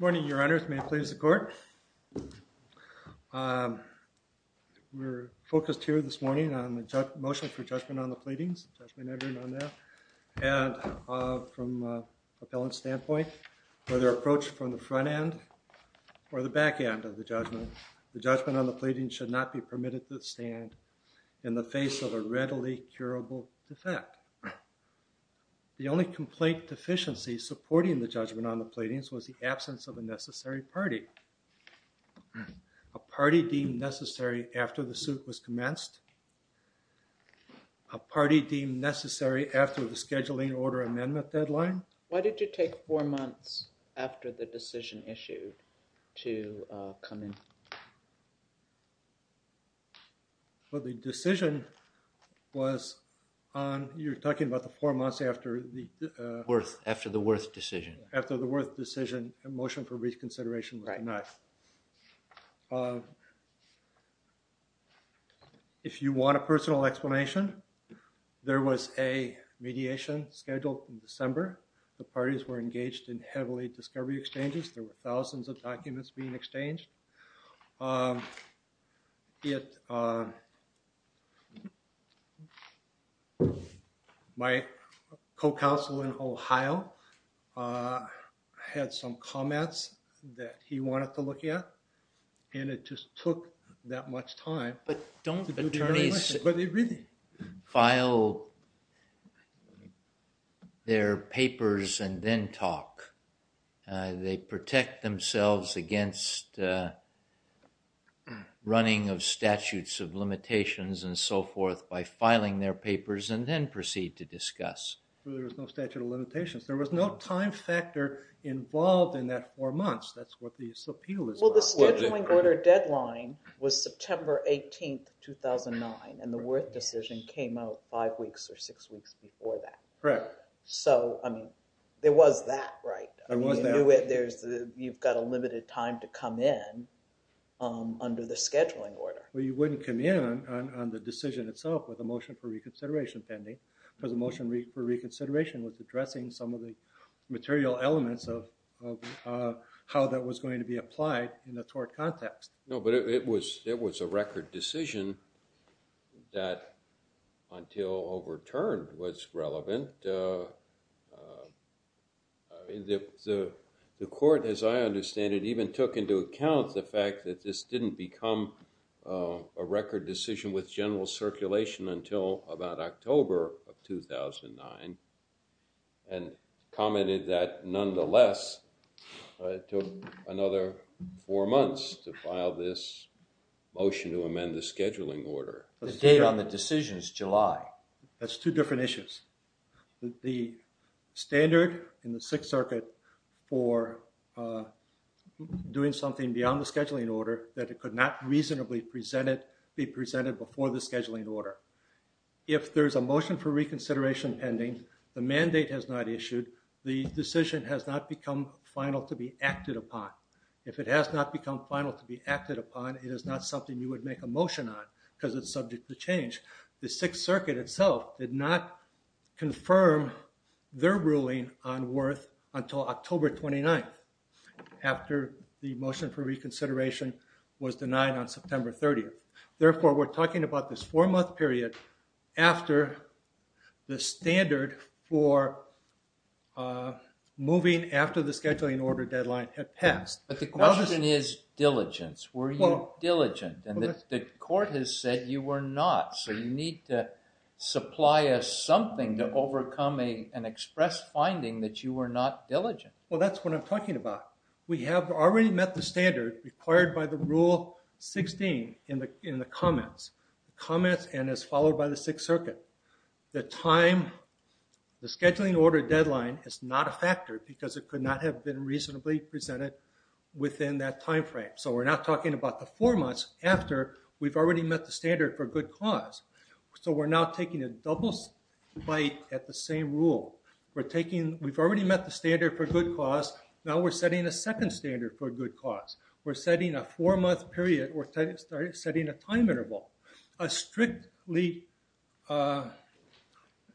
Good morning, Your Honors, may it please the Court? We're focused here this morning on the motion for judgment on the pleadings. Judgment everyone on that. And from an appellant's standpoint, whether approached from the front end or the back end of the judgment, the judgment on the pleadings should not be permitted to stand in the face of a readily curable defect. The only complaint deficiency supporting the judgment on the pleadings was the absence of a necessary party. A party deemed necessary after the suit was commenced. A party deemed necessary after the scheduling order amendment deadline. Why did you take four months after the decision issued to come in? Well, the decision was on, you're talking about the four months after the Worth decision. After the Worth decision, the motion for reconsideration was not. If you want a personal explanation, there was a mediation scheduled in December. The parties were engaged in heavily discovery exchanges. There were thousands of documents being exchanged. My co-counsel in Ohio had some comments that he wanted to look at, and it just took that much time. But don't attorneys file their papers and then talk. They protect themselves against running of statutes of limitations and so forth by filing their papers and then proceed to discuss. There was no statute of limitations. There was no time factor involved in that four months. That's what this appeal is about. Well, the scheduling order deadline was September 18, 2009, and the Worth decision came out five weeks or six weeks before that. Correct. So, I mean, there was that, right? There was that. You've got a limited time to come in under the scheduling order. Well, you wouldn't come in on the decision itself with a motion for reconsideration pending, because the motion for reconsideration was addressing some of the material elements of how that was going to be applied in the tort context. No, but it was a record decision that, until overturned, was relevant. The court, as I understand it, even took into account the fact that this didn't become a record decision with general circulation until about October of 2009, and commented that, nonetheless, it took another four months to file this motion to amend the scheduling order. The date on the decision is July. That's two different issues. The standard in the Sixth Circuit for doing something beyond the scheduling order, that it could not reasonably be presented before the scheduling order. If there's a motion for reconsideration pending, the mandate has not issued, the decision has not become final to be acted upon. If it has not become final to be acted upon, it is not something you would make a motion on, because it's subject to change. The Sixth Circuit itself did not confirm their ruling on Worth until October 29th, after the motion for reconsideration was denied on September 30th. Therefore, we're talking about this four-month period after the standard for moving after the scheduling order deadline had passed. But the question is diligence. Were you diligent? And the court has said you were not. So you need to supply us something to overcome an express finding that you were not diligent. Well, that's what I'm talking about. We have already met the standard required by the Rule 16 in the comments, and as followed by the Sixth Circuit. The time, the scheduling order deadline is not a factor, because it could not have been reasonably presented within that time frame. So we're not talking about the four months after we've already met the standard for good cause. So we're now taking a double bite at the same rule. We've already met the standard for good cause. Now we're setting a second standard for good cause. We're setting a four-month period. We're setting a time interval, a strictly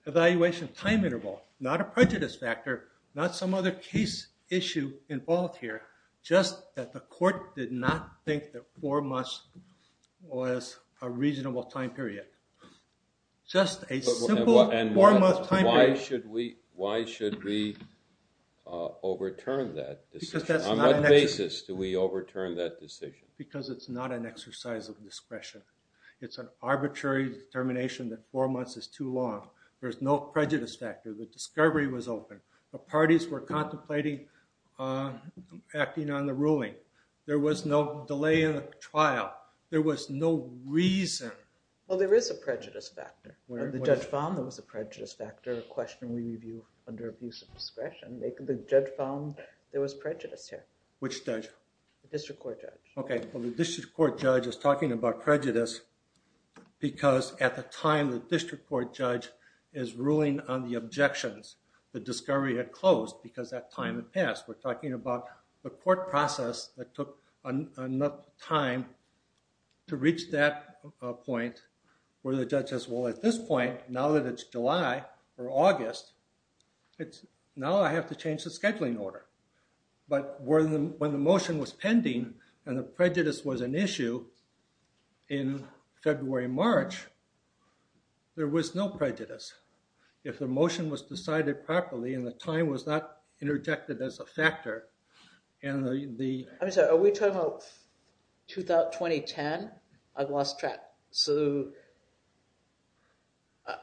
evaluation time interval, not a prejudice factor, not some other case issue involved here, just that the court did not think that four months was a reasonable time period. Just a simple four-month time period. And why should we overturn that decision? Because that's not an action. On what basis do we overturn that decision? Because it's not an exercise of discretion. It's an arbitrary determination that four months is too long. There's no prejudice factor. The discovery was open. The parties were contemplating acting on the ruling. There was no delay in the trial. There was no reason. Well, there is a prejudice factor. The judge found there was a prejudice factor, a question we review under abuse of discretion. The judge found there was prejudice here. Which judge? The district court judge. Okay. Well, the district court judge is talking about prejudice because at the time the district court judge is ruling on the objections, the discovery had closed because that time had passed. We're talking about the court process that took enough time to reach that point where the judge says, well, at this point, now that it's July or August, now I have to change the scheduling order. But when the motion was pending and the prejudice was an issue in February, March, there was no prejudice. If the motion was decided properly and the time was not interjected as a factor and the- I'm sorry. Are we talking about 2010? I've lost track.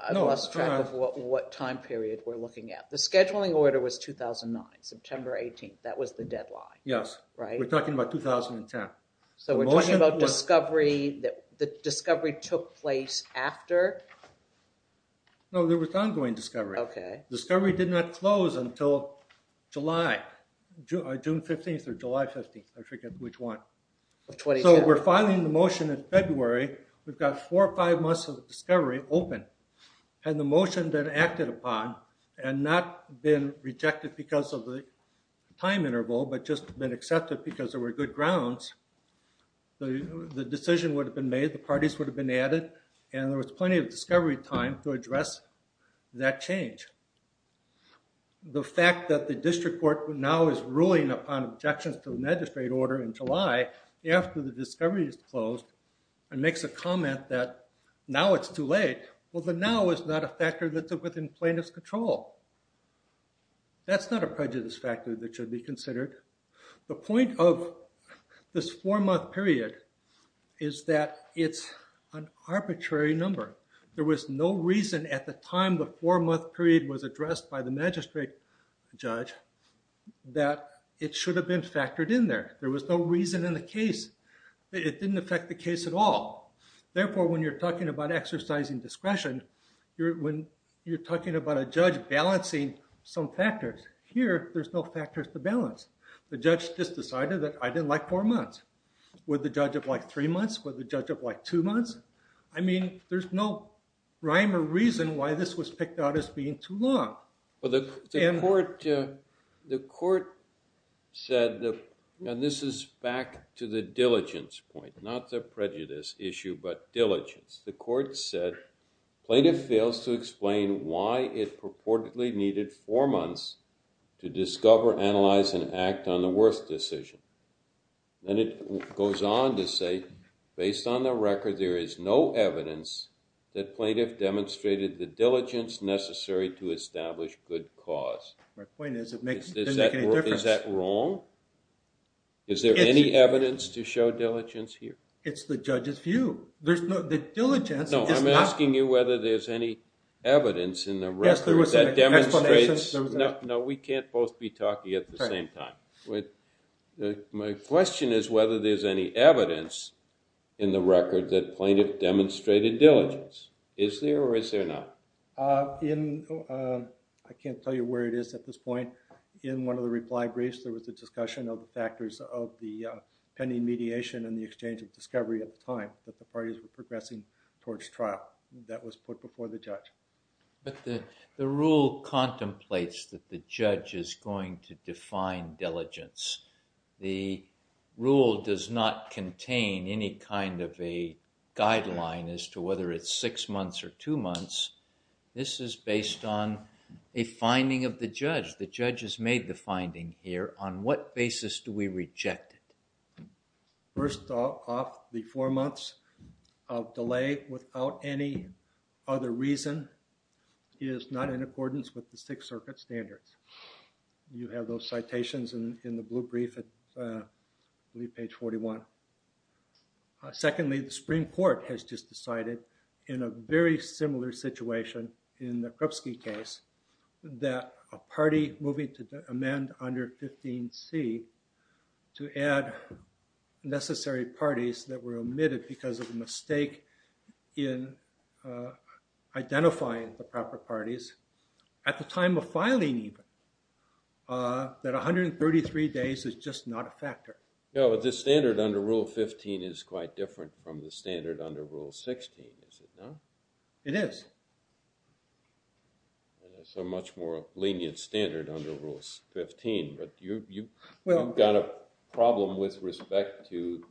I've lost track of what time period we're looking at. The scheduling order was 2009, September 18th. That was the deadline. Yes. Right? We're talking about 2010. So we're talking about discovery, the discovery took place after? No, there was ongoing discovery. Okay. Discovery did not close until July, June 15th or July 15th, I forget which one. So we're filing the motion in February. We've got four or five months of discovery open. And the motion then acted upon and not been rejected because of the time interval, but just been accepted because there were good grounds. The decision would have been made, the parties would have been added, and there was plenty of discovery time to address that change. The fact that the district court now is ruling upon objections to the magistrate order in July after the discovery is closed and makes a comment that now it's too late, well, the now is not a factor that's within plaintiff's control. That's not a prejudice factor that should be considered. The point of this four-month period is that it's an arbitrary number. There was no reason at the time the four-month period was addressed by the magistrate judge that it should have been factored in there. There was no reason in the case. It didn't affect the case at all. Therefore, when you're talking about exercising discretion, when you're talking about a judge balancing some factors, here there's no factors to balance. The judge just decided that I didn't like four months. Would the judge have liked three months? Would the judge have liked two months? I mean, there's no rhyme or reason why this was picked out as being too long. Well, the court said, and this is back to the diligence point, not the prejudice issue but diligence. The court said, plaintiff fails to explain why it purportedly needed four months to discover, analyze, and act on the worst decision. Then it goes on to say, based on the record, there is no evidence that plaintiff demonstrated the diligence necessary to establish good cause. My point is it doesn't make any difference. Is that wrong? Is there any evidence to show diligence here? It's the judge's view. There's no diligence. No, I'm asking you whether there's any evidence in the record that demonstrates. Yes, there was an explanation. No, we can't both be talking at the same time. My question is whether there's any evidence in the record that plaintiff demonstrated diligence. Is there or is there not? I can't tell you where it is at this point. In one of the reply briefs, there was a discussion of the factors of the pending mediation and the exchange of discovery at the time that the parties were progressing towards trial. That was put before the judge. The rule contemplates that the judge is going to define diligence. The rule does not contain any kind of a guideline as to whether it's six months or two months. This is based on a finding of the judge. The judge has made the finding here. On what basis do we reject it? First off, the four months of delay without any other reason is not in accordance with the Sixth Circuit standards. You have those citations in the blue brief at, I believe, page 41. Secondly, the Supreme Court has just decided in a very similar situation in the Krupski case that a party moving to amend under 15C to add necessary parties that were omitted because of a mistake in identifying the proper parties at the time of filing even. That 133 days is just not a factor. This standard under Rule 15 is quite different from the standard under Rule 16, is it not? It is. It's a much more lenient standard under Rule 15. You've got a problem with respect to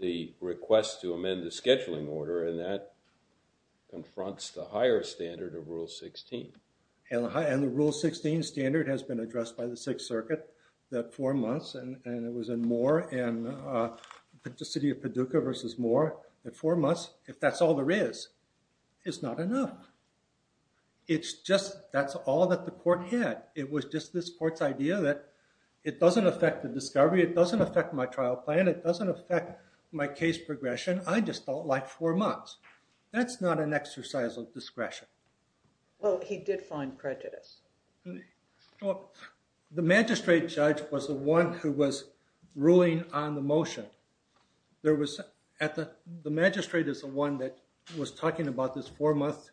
the request to amend the scheduling order, and that confronts the higher standard of Rule 16. And the Rule 16 standard has been addressed by the Sixth Circuit that four months, and it was in Moore and the city of Paducah versus Moore. That four months, if that's all there is, is not enough. It's just that's all that the court had. It was just this court's idea that it doesn't affect the discovery. It doesn't affect my trial plan. It doesn't affect my case progression. I just felt like four months. That's not an exercise of discretion. Well, he did find prejudice. The magistrate judge was the one who was ruling on the motion. The magistrate is the one that was talking about this four-month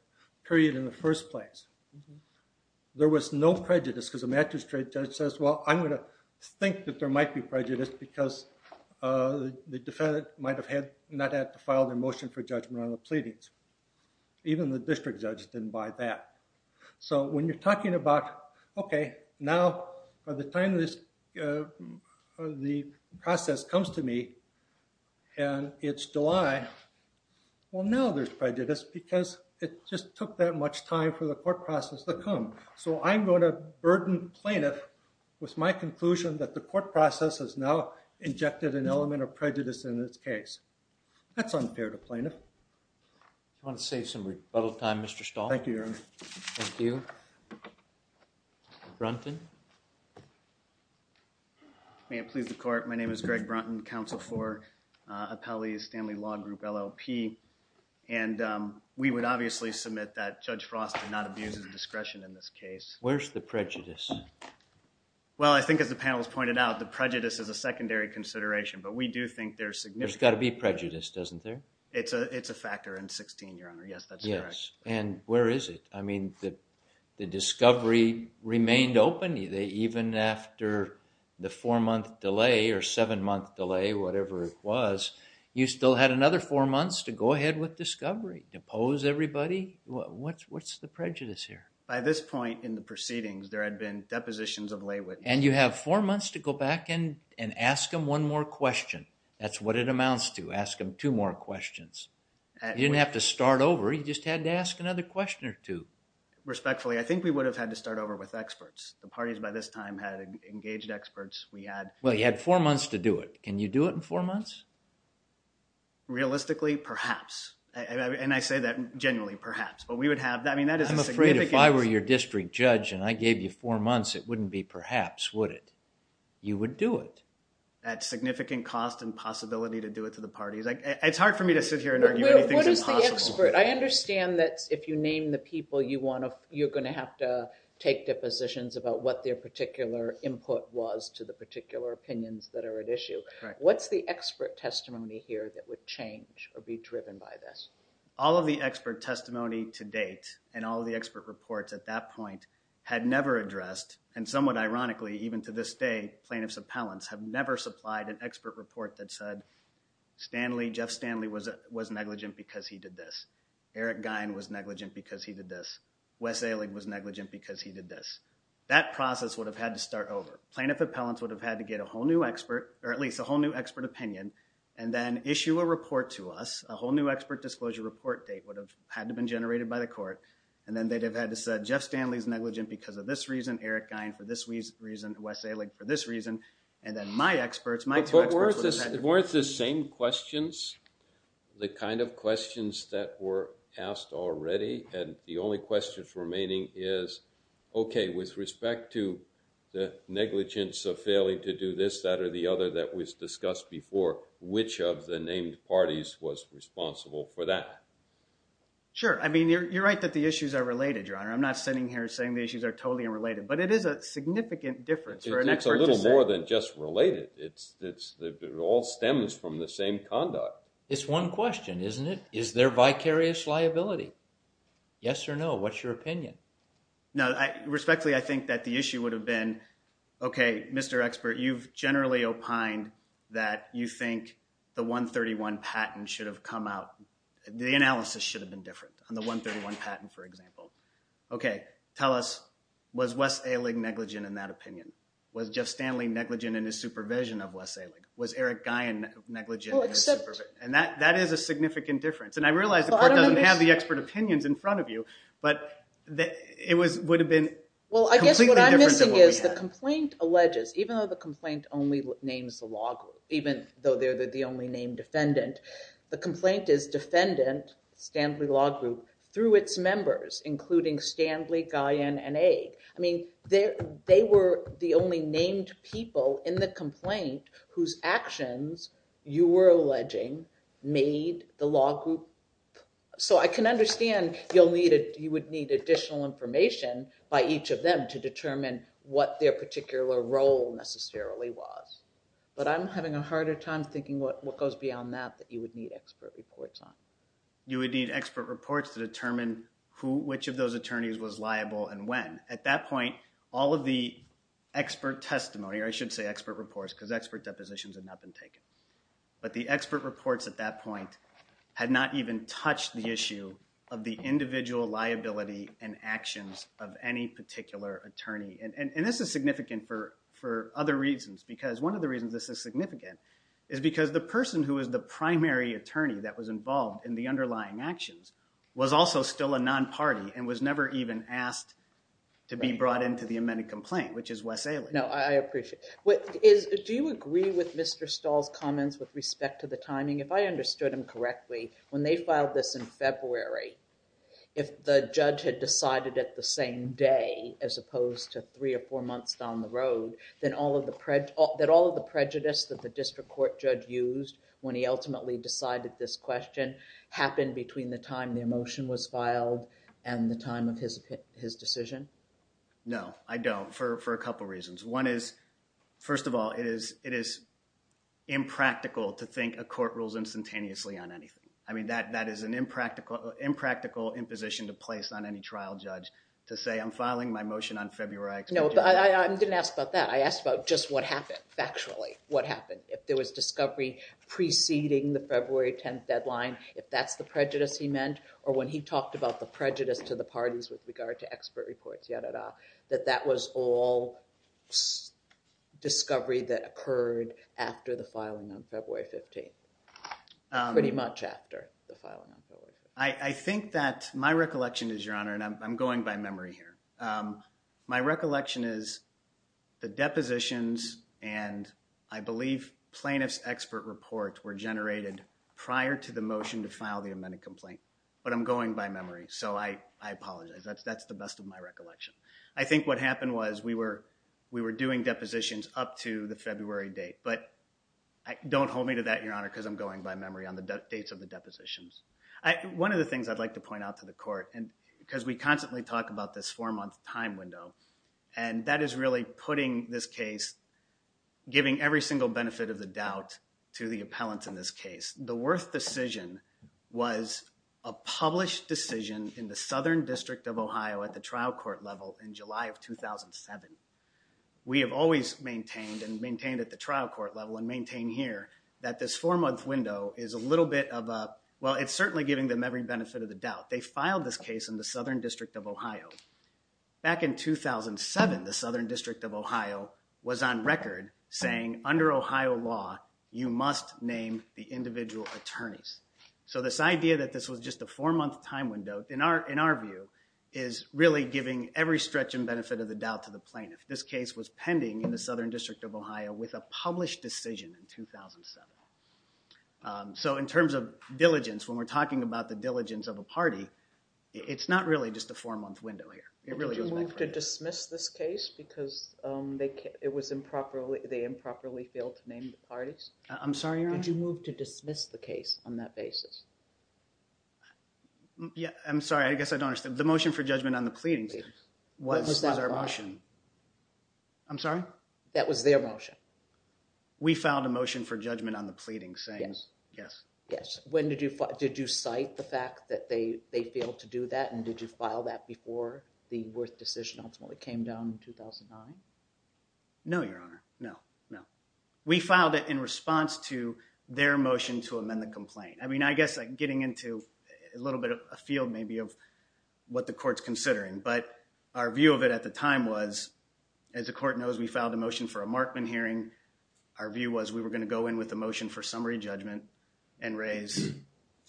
period in the first place. There was no prejudice, because the magistrate judge says, well, I'm going to think that there might be prejudice, because the defendant might not have had to file their motion for judgment on the pleadings. Even the district judge didn't buy that. So when you're talking about, okay, now, by the time the process comes to me and it's July, well, now there's prejudice, because it just took that much time for the court process to come. So I'm going to burden plaintiff with my conclusion that the court process has now injected an element of prejudice in its case. That's unfair to plaintiff. Do you want to save some rebuttal time, Mr. Stahl? Thank you, Your Honor. Thank you. Brunton? May it please the court. My name is Greg Brunton, Counsel for Appellees, Stanley Law Group, LLP, and we would obviously submit that Judge Frost did not abuse his discretion in this case. Where's the prejudice? Well, I think as the panel has pointed out, the prejudice is a secondary consideration, but we do think there's significant... There's got to be prejudice, doesn't there? It's a factor in 16, Your Honor. Yes, that's correct. Yes, and where is it? I mean, the discovery remained open. Even after the four-month delay or seven-month delay, whatever it was, you still had another four months to go ahead with discovery, to pose everybody. What's the prejudice here? By this point in the proceedings, there had been depositions of lay witness. And you have four months to go back and ask them one more question. That's what it amounts to. Ask them two more questions. You didn't have to start over. You just had to ask another question or two. Respectfully, I think we would have had to start over with experts. The parties by this time had engaged experts. We had... Well, you had four months to do it. Can you do it in four months? Realistically, perhaps. And I say that genuinely, perhaps. But we would have... I'm afraid if I were your district judge and I gave you four months, it wouldn't be perhaps, would it? You would do it. At significant cost and possibility to do it to the parties. It's hard for me to sit here and argue anything's impossible. What is the expert? I understand that if you name the people, you're going to have to take depositions about what their particular input was to the particular opinions that are at issue. What's the expert testimony here that would change or be driven by this? All of the expert testimony to date and all of the expert reports at that point had never addressed, and somewhat ironically, even to this day, plaintiff's appellants have never supplied an expert report that said, Jeff Stanley was negligent because he did this. Eric Gein was negligent because he did this. Wes Ehrlich was negligent because he did this. That process would have had to start over. Plaintiff appellants would have had to get a whole new expert, or at least a whole new expert opinion, and then issue a report to us. A whole new expert disclosure report date would have had to been generated by the court. And then they'd have had to say, Jeff Stanley's negligent because of this reason. Eric Gein for this reason. Wes Ehrlich for this reason. And then my experts, my two experts would have had to go. But weren't the same questions the kind of questions that were asked already? And the only questions remaining is, okay, with respect to the negligence of failing to do this, that, or the other that was discussed before, which of the named parties was responsible for that? Sure. I mean, you're right that the issues are related, Your Honor. I'm not sitting here saying the issues are totally unrelated, but it is a significant difference for an expert to say. It's a little more than just related. It all stems from the same conduct. It's one question, isn't it? Is there vicarious liability? Yes or no? What's your opinion? Respectfully, I think that the issue would have been, okay, Mr. Expert, you've generally opined that you think the 131 patent should have come out. The analysis should have been different on the 131 patent, for example. Okay, tell us, was Wes Ehrling negligent in that opinion? Was Jeff Stanley negligent in his supervision of Wes Ehrling? Was Eric Guyon negligent in his supervision? And that is a significant difference. And I realize the court doesn't have the expert opinions in front of you, but it would have been completely different than what we had. Well, I guess what I'm missing is the complaint alleges, even though the complaint only names the law group, even though they're the only named defendant, the complaint is defendant, Stanley Law Group, through its members, including Stanley, Guyon, and Egg. I mean, they were the only named people in the complaint whose actions, you were alleging, made the law group. So I can understand you would need additional information by each of them to determine what their particular role necessarily was. But I'm having a harder time thinking what goes beyond that, that you would need expert reports on. You would need expert reports to determine who, which of those attorneys was liable and when. At that point, all of the expert testimony, or I should say expert reports, because expert depositions had not been taken. But the expert reports at that point had not even touched the issue of the individual liability and actions of any particular attorney. And this is significant for other reasons, because one of the reasons this is significant is because the person who is the primary attorney that was involved in the underlying actions was also still a non-party and was never even asked to be brought into the amended complaint, which is Wes Ailey. No, I appreciate it. Do you agree with Mr. Stahl's comments with respect to the timing? If I understood him correctly, when they filed this in February, if the judge had decided at the same day, as opposed to three or four months down the road, that all of the prejudice that the district court judge used when he ultimately decided this question happened between the time the motion was filed and the time of his decision? No, I don't, for a couple reasons. One is, first of all, it is impractical to think a court rules instantaneously on anything. I mean, that is an impractical imposition to place on any trial judge to say I'm filing my motion on February. No, but I didn't ask about that. I asked about just what happened factually. What happened? If there was discovery preceding the February 10th deadline, if that's the prejudice he meant, or when he talked about the prejudice to the parties with regard to expert reports, ya-da-da, that that was all discovery that occurred after the filing on February 15th, pretty much after the filing on February 15th. I think that my recollection is, Your Honor, and I'm going by memory here, my recollection is the depositions and, I believe, plaintiff's expert report were generated prior to the motion to file the amended complaint, but I'm going by memory, so I apologize. That's the best of my recollection. I think what happened was we were doing depositions up to the February date, but don't hold me to that, Your Honor, because I'm going by memory on the dates of the depositions. One of the things I'd like to point out to the court, because we constantly talk about this four-month time window, and that is really putting this case, giving every single benefit of the doubt to the appellant in this case. The Wirth decision was a published decision in the Southern District of Ohio at the trial court level in July of 2007. We have always maintained and maintained at the trial court level and maintain here that this four-month window is a little bit of a, well, it's certainly giving them every benefit of the doubt. They filed this case in the Southern District of Ohio. Back in 2007, the Southern District of Ohio was on record saying, under Ohio law, you must name the individual attorneys. So this idea that this was just a four-month time window, in our view, is really giving every stretch and benefit of the doubt to the plaintiff. This case was pending in the Southern District of Ohio with a published decision in 2007. So in terms of diligence, when we're talking about the diligence of a party, it's not really just a four-month window here. Did you move to dismiss this case because they improperly failed to name the parties? I'm sorry, Your Honor? Did you move to dismiss the case on that basis? I'm sorry, I guess I don't understand. The motion for judgment on the pleadings was our motion. What was that motion? I'm sorry? That was their motion. We filed a motion for judgment on the pleadings saying yes. Yes. Did you cite the fact that they failed to do that, and did you file that before the Wirth decision ultimately came down in 2009? No, Your Honor, no, no. We filed it in response to their motion to amend the complaint. I mean, I guess getting into a little bit of a field maybe of what the court's considering, but our view of it at the time was, as the court knows, we filed a motion for a Markman hearing. Our view was we were going to go in with a motion for summary judgment and raise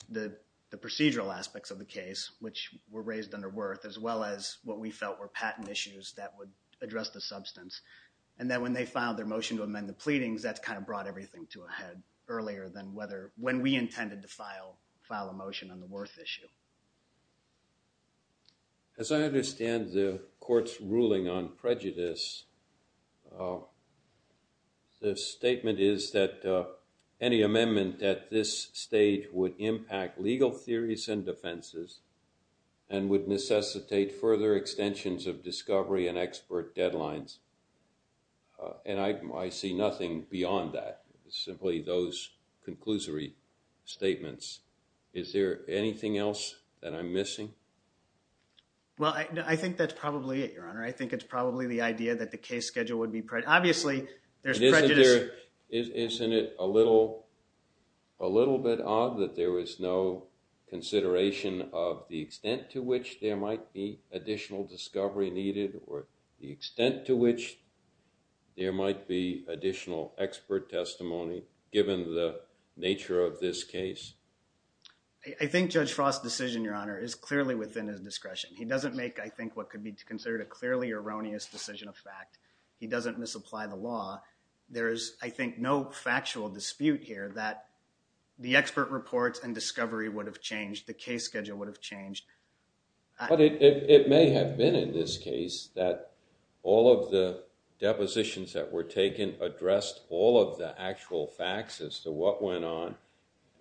the procedural aspects of the case, which were raised under Wirth, as well as what we felt were patent issues that would address the substance, and that when they filed their motion to amend the pleadings, that's kind of brought everything to a head earlier than when we intended to file a motion on the Wirth issue. As I understand the court's ruling on prejudice, the statement is that any amendment at this stage would impact legal theories and defenses and would necessitate further extensions of discovery and expert deadlines, and I see nothing beyond that, simply those conclusory statements. Is there anything else that I'm missing? Well, I think that's probably it, Your Honor. I think it's probably the idea that the case schedule would be predicted. Obviously, there's prejudice. Isn't it a little bit odd that there was no consideration of the extent to which there might be additional discovery needed or the extent to which there might be additional expert testimony given the nature of this case? I think Judge Frost's decision, Your Honor, is clearly within his discretion. He doesn't make, I think, what could be considered a clearly erroneous decision of fact. He doesn't misapply the law. There is, I think, no factual dispute here that the expert reports and discovery would have changed, the case schedule would have changed. But it may have been in this case that all of the depositions that were taken addressed all of the actual facts as to what went on,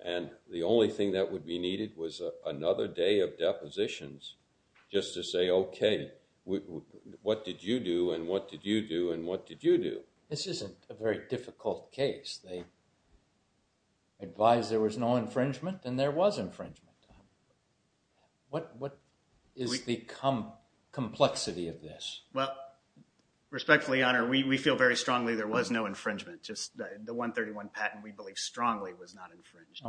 and the only thing that would be needed was another day of depositions just to say, okay, what did you do and what did you do and what did you do? This isn't a very difficult case. They advised there was no infringement, and there was infringement. What is the complexity of this? Well, respectfully, Your Honor, we feel very strongly there was no infringement, just the 131 patent we believe strongly was not infringed.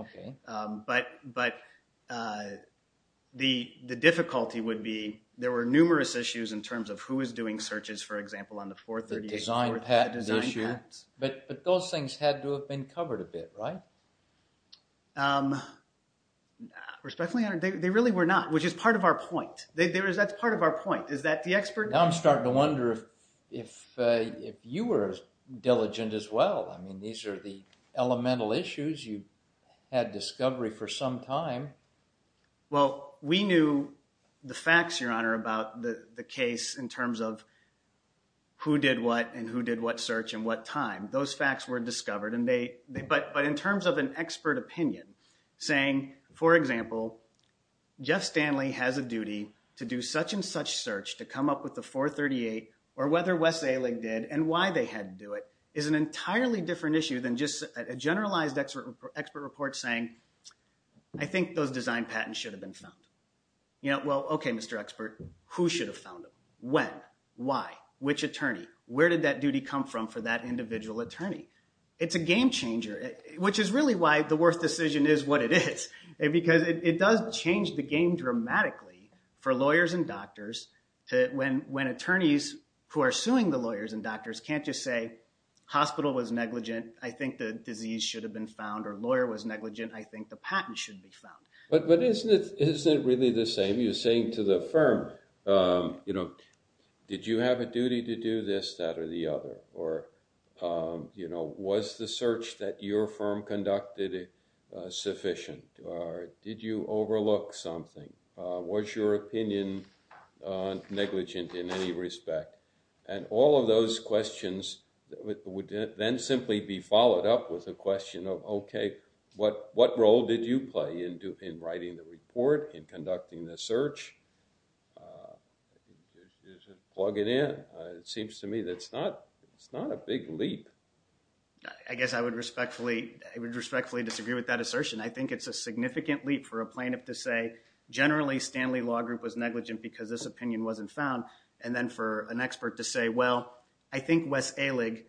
But the difficulty would be there were numerous issues in terms of who was doing searches, for example, on the 438. The design patent issue. But those things had to have been covered a bit, right? Respectfully, Your Honor, they really were not, which is part of our point. That's part of our point. Now, I'm starting to wonder if you were diligent as well. I mean, these are the elemental issues. You had discovery for some time. Well, we knew the facts, Your Honor, about the case in terms of who did what and who did what search and what time. Those facts were discovered. But in terms of an expert opinion saying, for example, Jeff Stanley has a duty to do such and such search to come up with the 438 or whether Wes Aling did and why they had to do it is an entirely different issue than just a generalized expert report saying, I think those design patents should have been found. Well, okay, Mr. Expert, who should have found them? When? Why? Which attorney? Where did that duty come from for that individual attorney? It's a game changer, which is really why the Worth decision is what it is, because it does change the game dramatically for lawyers and doctors when attorneys who are suing the lawyers and doctors can't just say, hospital was negligent, I think the disease should have been found, or lawyer was negligent, I think the patent should be found. But isn't it really the same? You're saying to the firm, you know, did you have a duty to do this, that, or the other? Or, you know, was the search that your firm conducted sufficient? Did you overlook something? Was your opinion negligent in any respect? And all of those questions would then simply be followed up with a question of, okay, what role did you play in writing the report, in conducting the search? Is it plugging in? It seems to me that's not a big leap. I guess I would respectfully disagree with that assertion. I think it's a significant leap for a plaintiff to say, generally, Stanley Law Group was negligent because this opinion wasn't found, and then for an expert to say, well, I think Wes Ehrlig,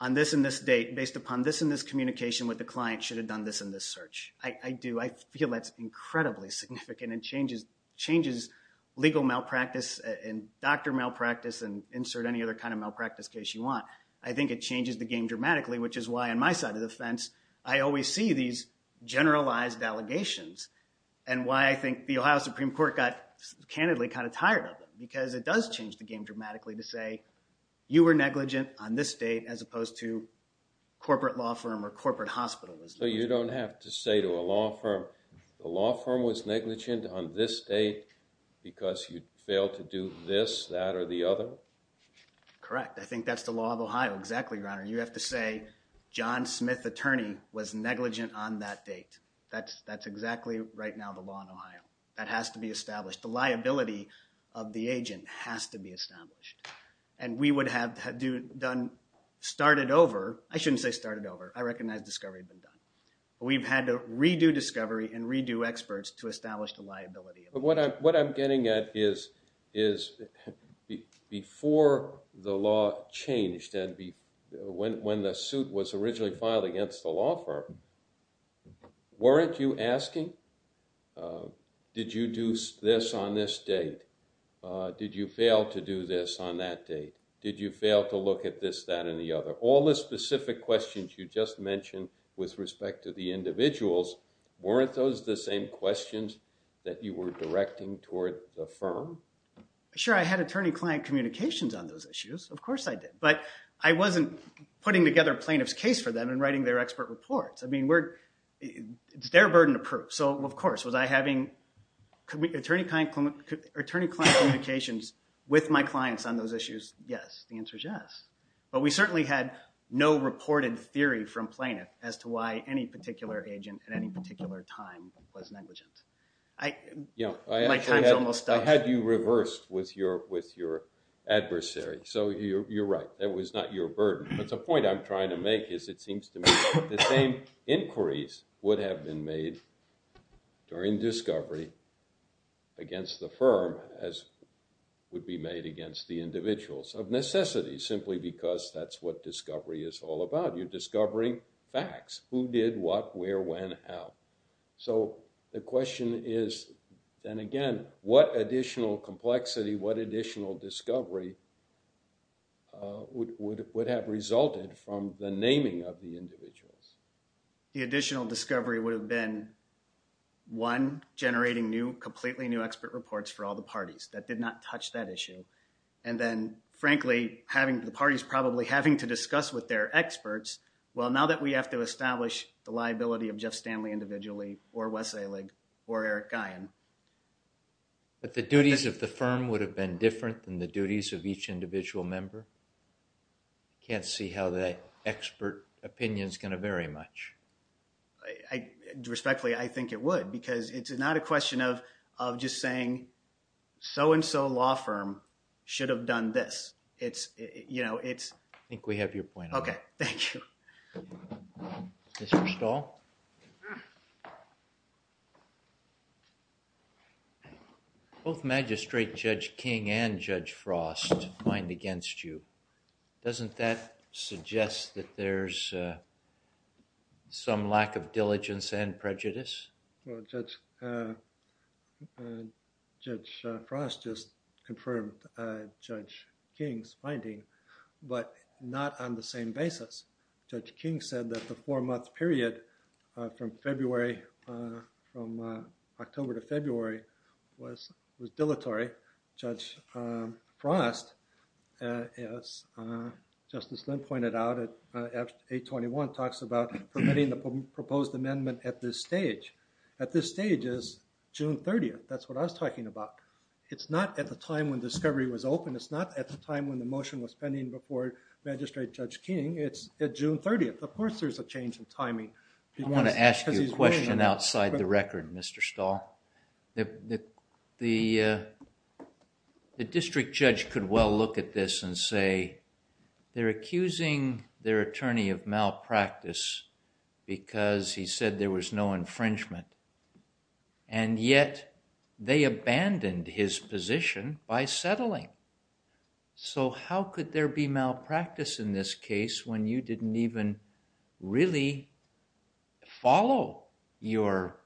on this and this date, based upon this and this communication with the client, should have done this and this search. I do. I feel that's incredibly significant and changes legal malpractice and doctor malpractice and insert any other kind of malpractice case you want. I think it changes the game dramatically, which is why, on my side of the fence, I always see these generalized allegations and why I think the Ohio Supreme Court got, candidly, kind of tired of it, because it does change the game dramatically to say, you were negligent on this date as opposed to corporate law firm or corporate hospital. So you don't have to say to a law firm, the law firm was negligent on this date because you failed to do this, that, or the other? Correct. I think that's the law of Ohio. Exactly, Your Honor. You have to say, John Smith, attorney, was negligent on that date. That's exactly, right now, the law in Ohio. That has to be established. The liability of the agent has to be established. And we would have started over. I shouldn't say started over. I recognize discovery had been done. We've had to redo discovery and redo experts to establish the liability. What I'm getting at is, before the law changed and when the suit was originally filed against the law firm, weren't you asking, did you do this on this date? Did you fail to do this on that date? Did you fail to look at this, that, and the other? All the specific questions you just mentioned with respect to the individuals, weren't those the same questions that you were directing toward the firm? Sure. I had attorney-client communications on those issues. Of course I did. But I wasn't putting together a plaintiff's case for them and writing their expert reports. I mean, it's their burden to prove. So, of course, was I having attorney-client communications with my clients on those issues? Yes. The answer is yes. But we certainly had no reported theory from plaintiff as to why any particular agent at any particular time was negligent. My time's almost up. I had you reversed with your adversary. So you're right. That was not your burden. But the point I'm trying to make is it seems to me that the same inquiries would have been made during discovery against the firm as would be made against the individuals of necessity, simply because that's what discovery is all about. You're discovering facts, who did what, where, when, how. So the question is, then again, what additional complexity, what additional discovery would have resulted from the naming of the individuals? The additional discovery would have been, one, generating new, completely new expert reports for all the parties that did not touch that issue, and then, frankly, the parties probably having to discuss with their experts, well, now that we have to establish the liability of Jeff Stanley individually or Wes Ehrlich or Eric Guyon. But the duties of the firm would have been different than the duties of each individual member? Can't see how that expert opinion is going to vary much. Respectfully, I think it would because it's not a question of just saying, so-and-so law firm should have done this. It's, you know, it's... I think we have your point. Okay, thank you. Mr. Stahl? Both Magistrate Judge King and Judge Frost find against you. Doesn't that suggest that there's some lack of diligence and prejudice? Well, Judge Frost just confirmed Judge King's finding, but not on the same basis. Judge King said that the four-month period from October to February was dilatory. Judge Frost, as Justice Lind pointed out, at 821 talks about permitting the proposed amendment at this stage. At this stage is June 30th. That's what I was talking about. It's not at the time when discovery was open. It's not at the time when the motion was pending before Magistrate Judge King. It's at June 30th. Of course, there's a change in timing. I want to ask you a question outside the record, Mr. Stahl. The district judge could well look at this and say, they're accusing their attorney of malpractice because he said there was no infringement, and yet they abandoned his position by settling. So how could there be malpractice in this case when you didn't even really follow your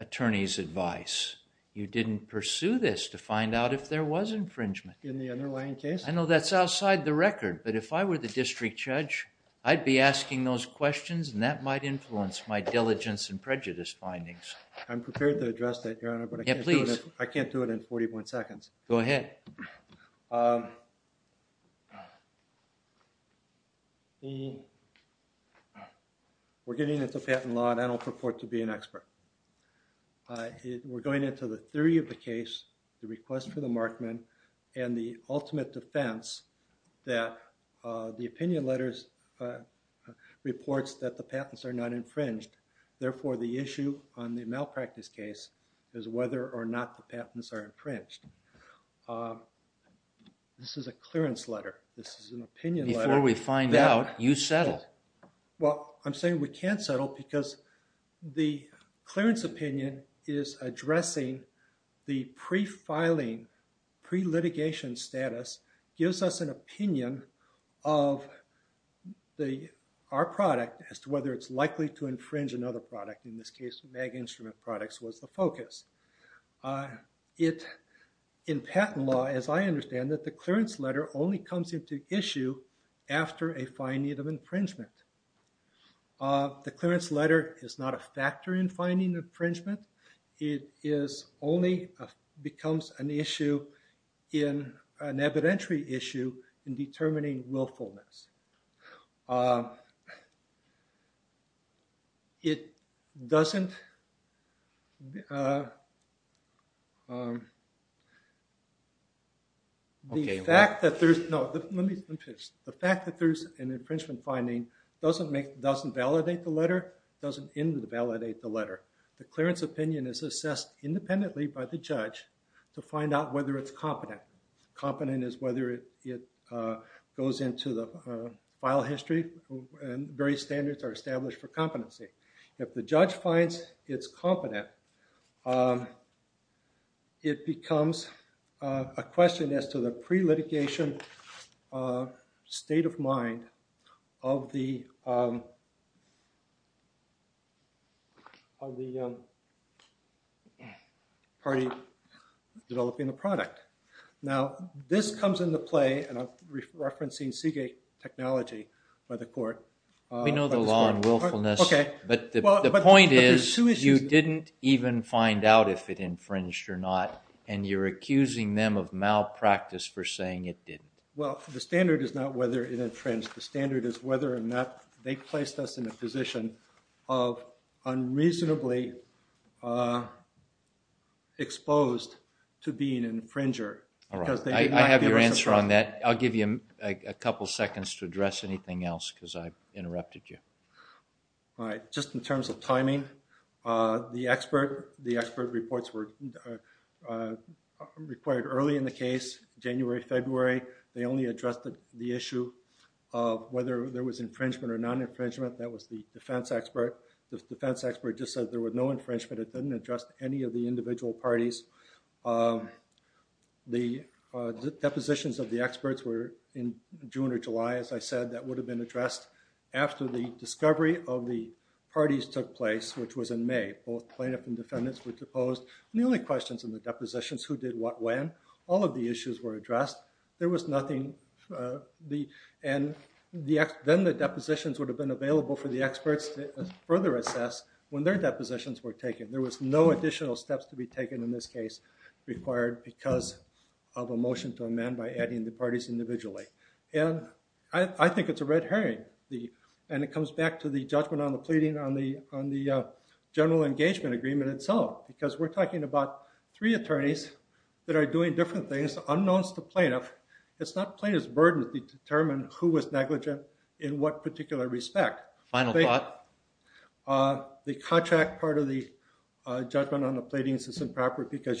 attorney's advice? You didn't pursue this to find out if there was infringement. In the underlying case? I know that's outside the record, but if I were the district judge, I'd be asking those questions, and that might influence my diligence and prejudice findings. I'm prepared to address that, Your Honor, but I can't do it in 41 seconds. Go ahead. We're getting into patent law, and I don't purport to be an expert. We're going into the theory of the case, the request for the markman, and the ultimate defense that the opinion letter reports that the patents are not infringed. Therefore, the issue on the malpractice case is whether or not the patents are infringed. This is a clearance letter. This is an opinion letter. Before we find out, you settle. Well, I'm saying we can't settle because the clearance opinion is addressing the pre-filing, pre-litigation status, gives us an opinion of our product as to whether it's likely to infringe another product. In this case, MAG Instrument Products was the focus. In patent law, as I understand it, the clearance letter only comes into issue after a finding of infringement. The clearance letter is not a factor in finding infringement. It only becomes an issue, an evidentiary issue, in determining willfulness. It doesn't – the fact that there's – no, let me finish. The fact that there's an infringement finding doesn't validate the letter, doesn't invalidate the letter. The clearance opinion is assessed independently by the judge to find out whether it's competent. Competent is whether it goes into the file history and various standards are established for competency. If the judge finds it's competent, it becomes a question as to the pre-litigation state of mind of the party developing the product. Now, this comes into play, and I'm referencing Seagate Technology by the court. Okay. But the point is you didn't even find out if it infringed or not, and you're accusing them of malpractice for saying it didn't. Well, the standard is not whether it infringed. The standard is whether or not they placed us in a position of unreasonably exposed to being an infringer. All right. I have your answer on that. I'll give you a couple seconds to address anything else because I interrupted you. All right. Just in terms of timing, the expert reports were required early in the case, January, February. They only addressed the issue of whether there was infringement or non-infringement. That was the defense expert. The defense expert just said there was no infringement. It didn't address any of the individual parties. The depositions of the experts were in June or July, as I said. That would have been addressed after the discovery of the parties took place, which was in May. Both plaintiff and defendants were deposed. And the only questions in the depositions, who did what when, all of the issues were addressed. There was nothing. Then the depositions would have been available for the experts to further assess when their depositions were taken. There was no additional steps to be taken in this case required because of a motion to amend by adding the parties individually. I think it's a red herring. And it comes back to the judgment on the pleading on the general engagement agreement itself. Because we're talking about three attorneys that are doing different things, unknowns to plaintiff. It's not plaintiff's burden to determine who was negligent in what particular respect. Final thought? The contract part of the judgment on the pleadings is improper because you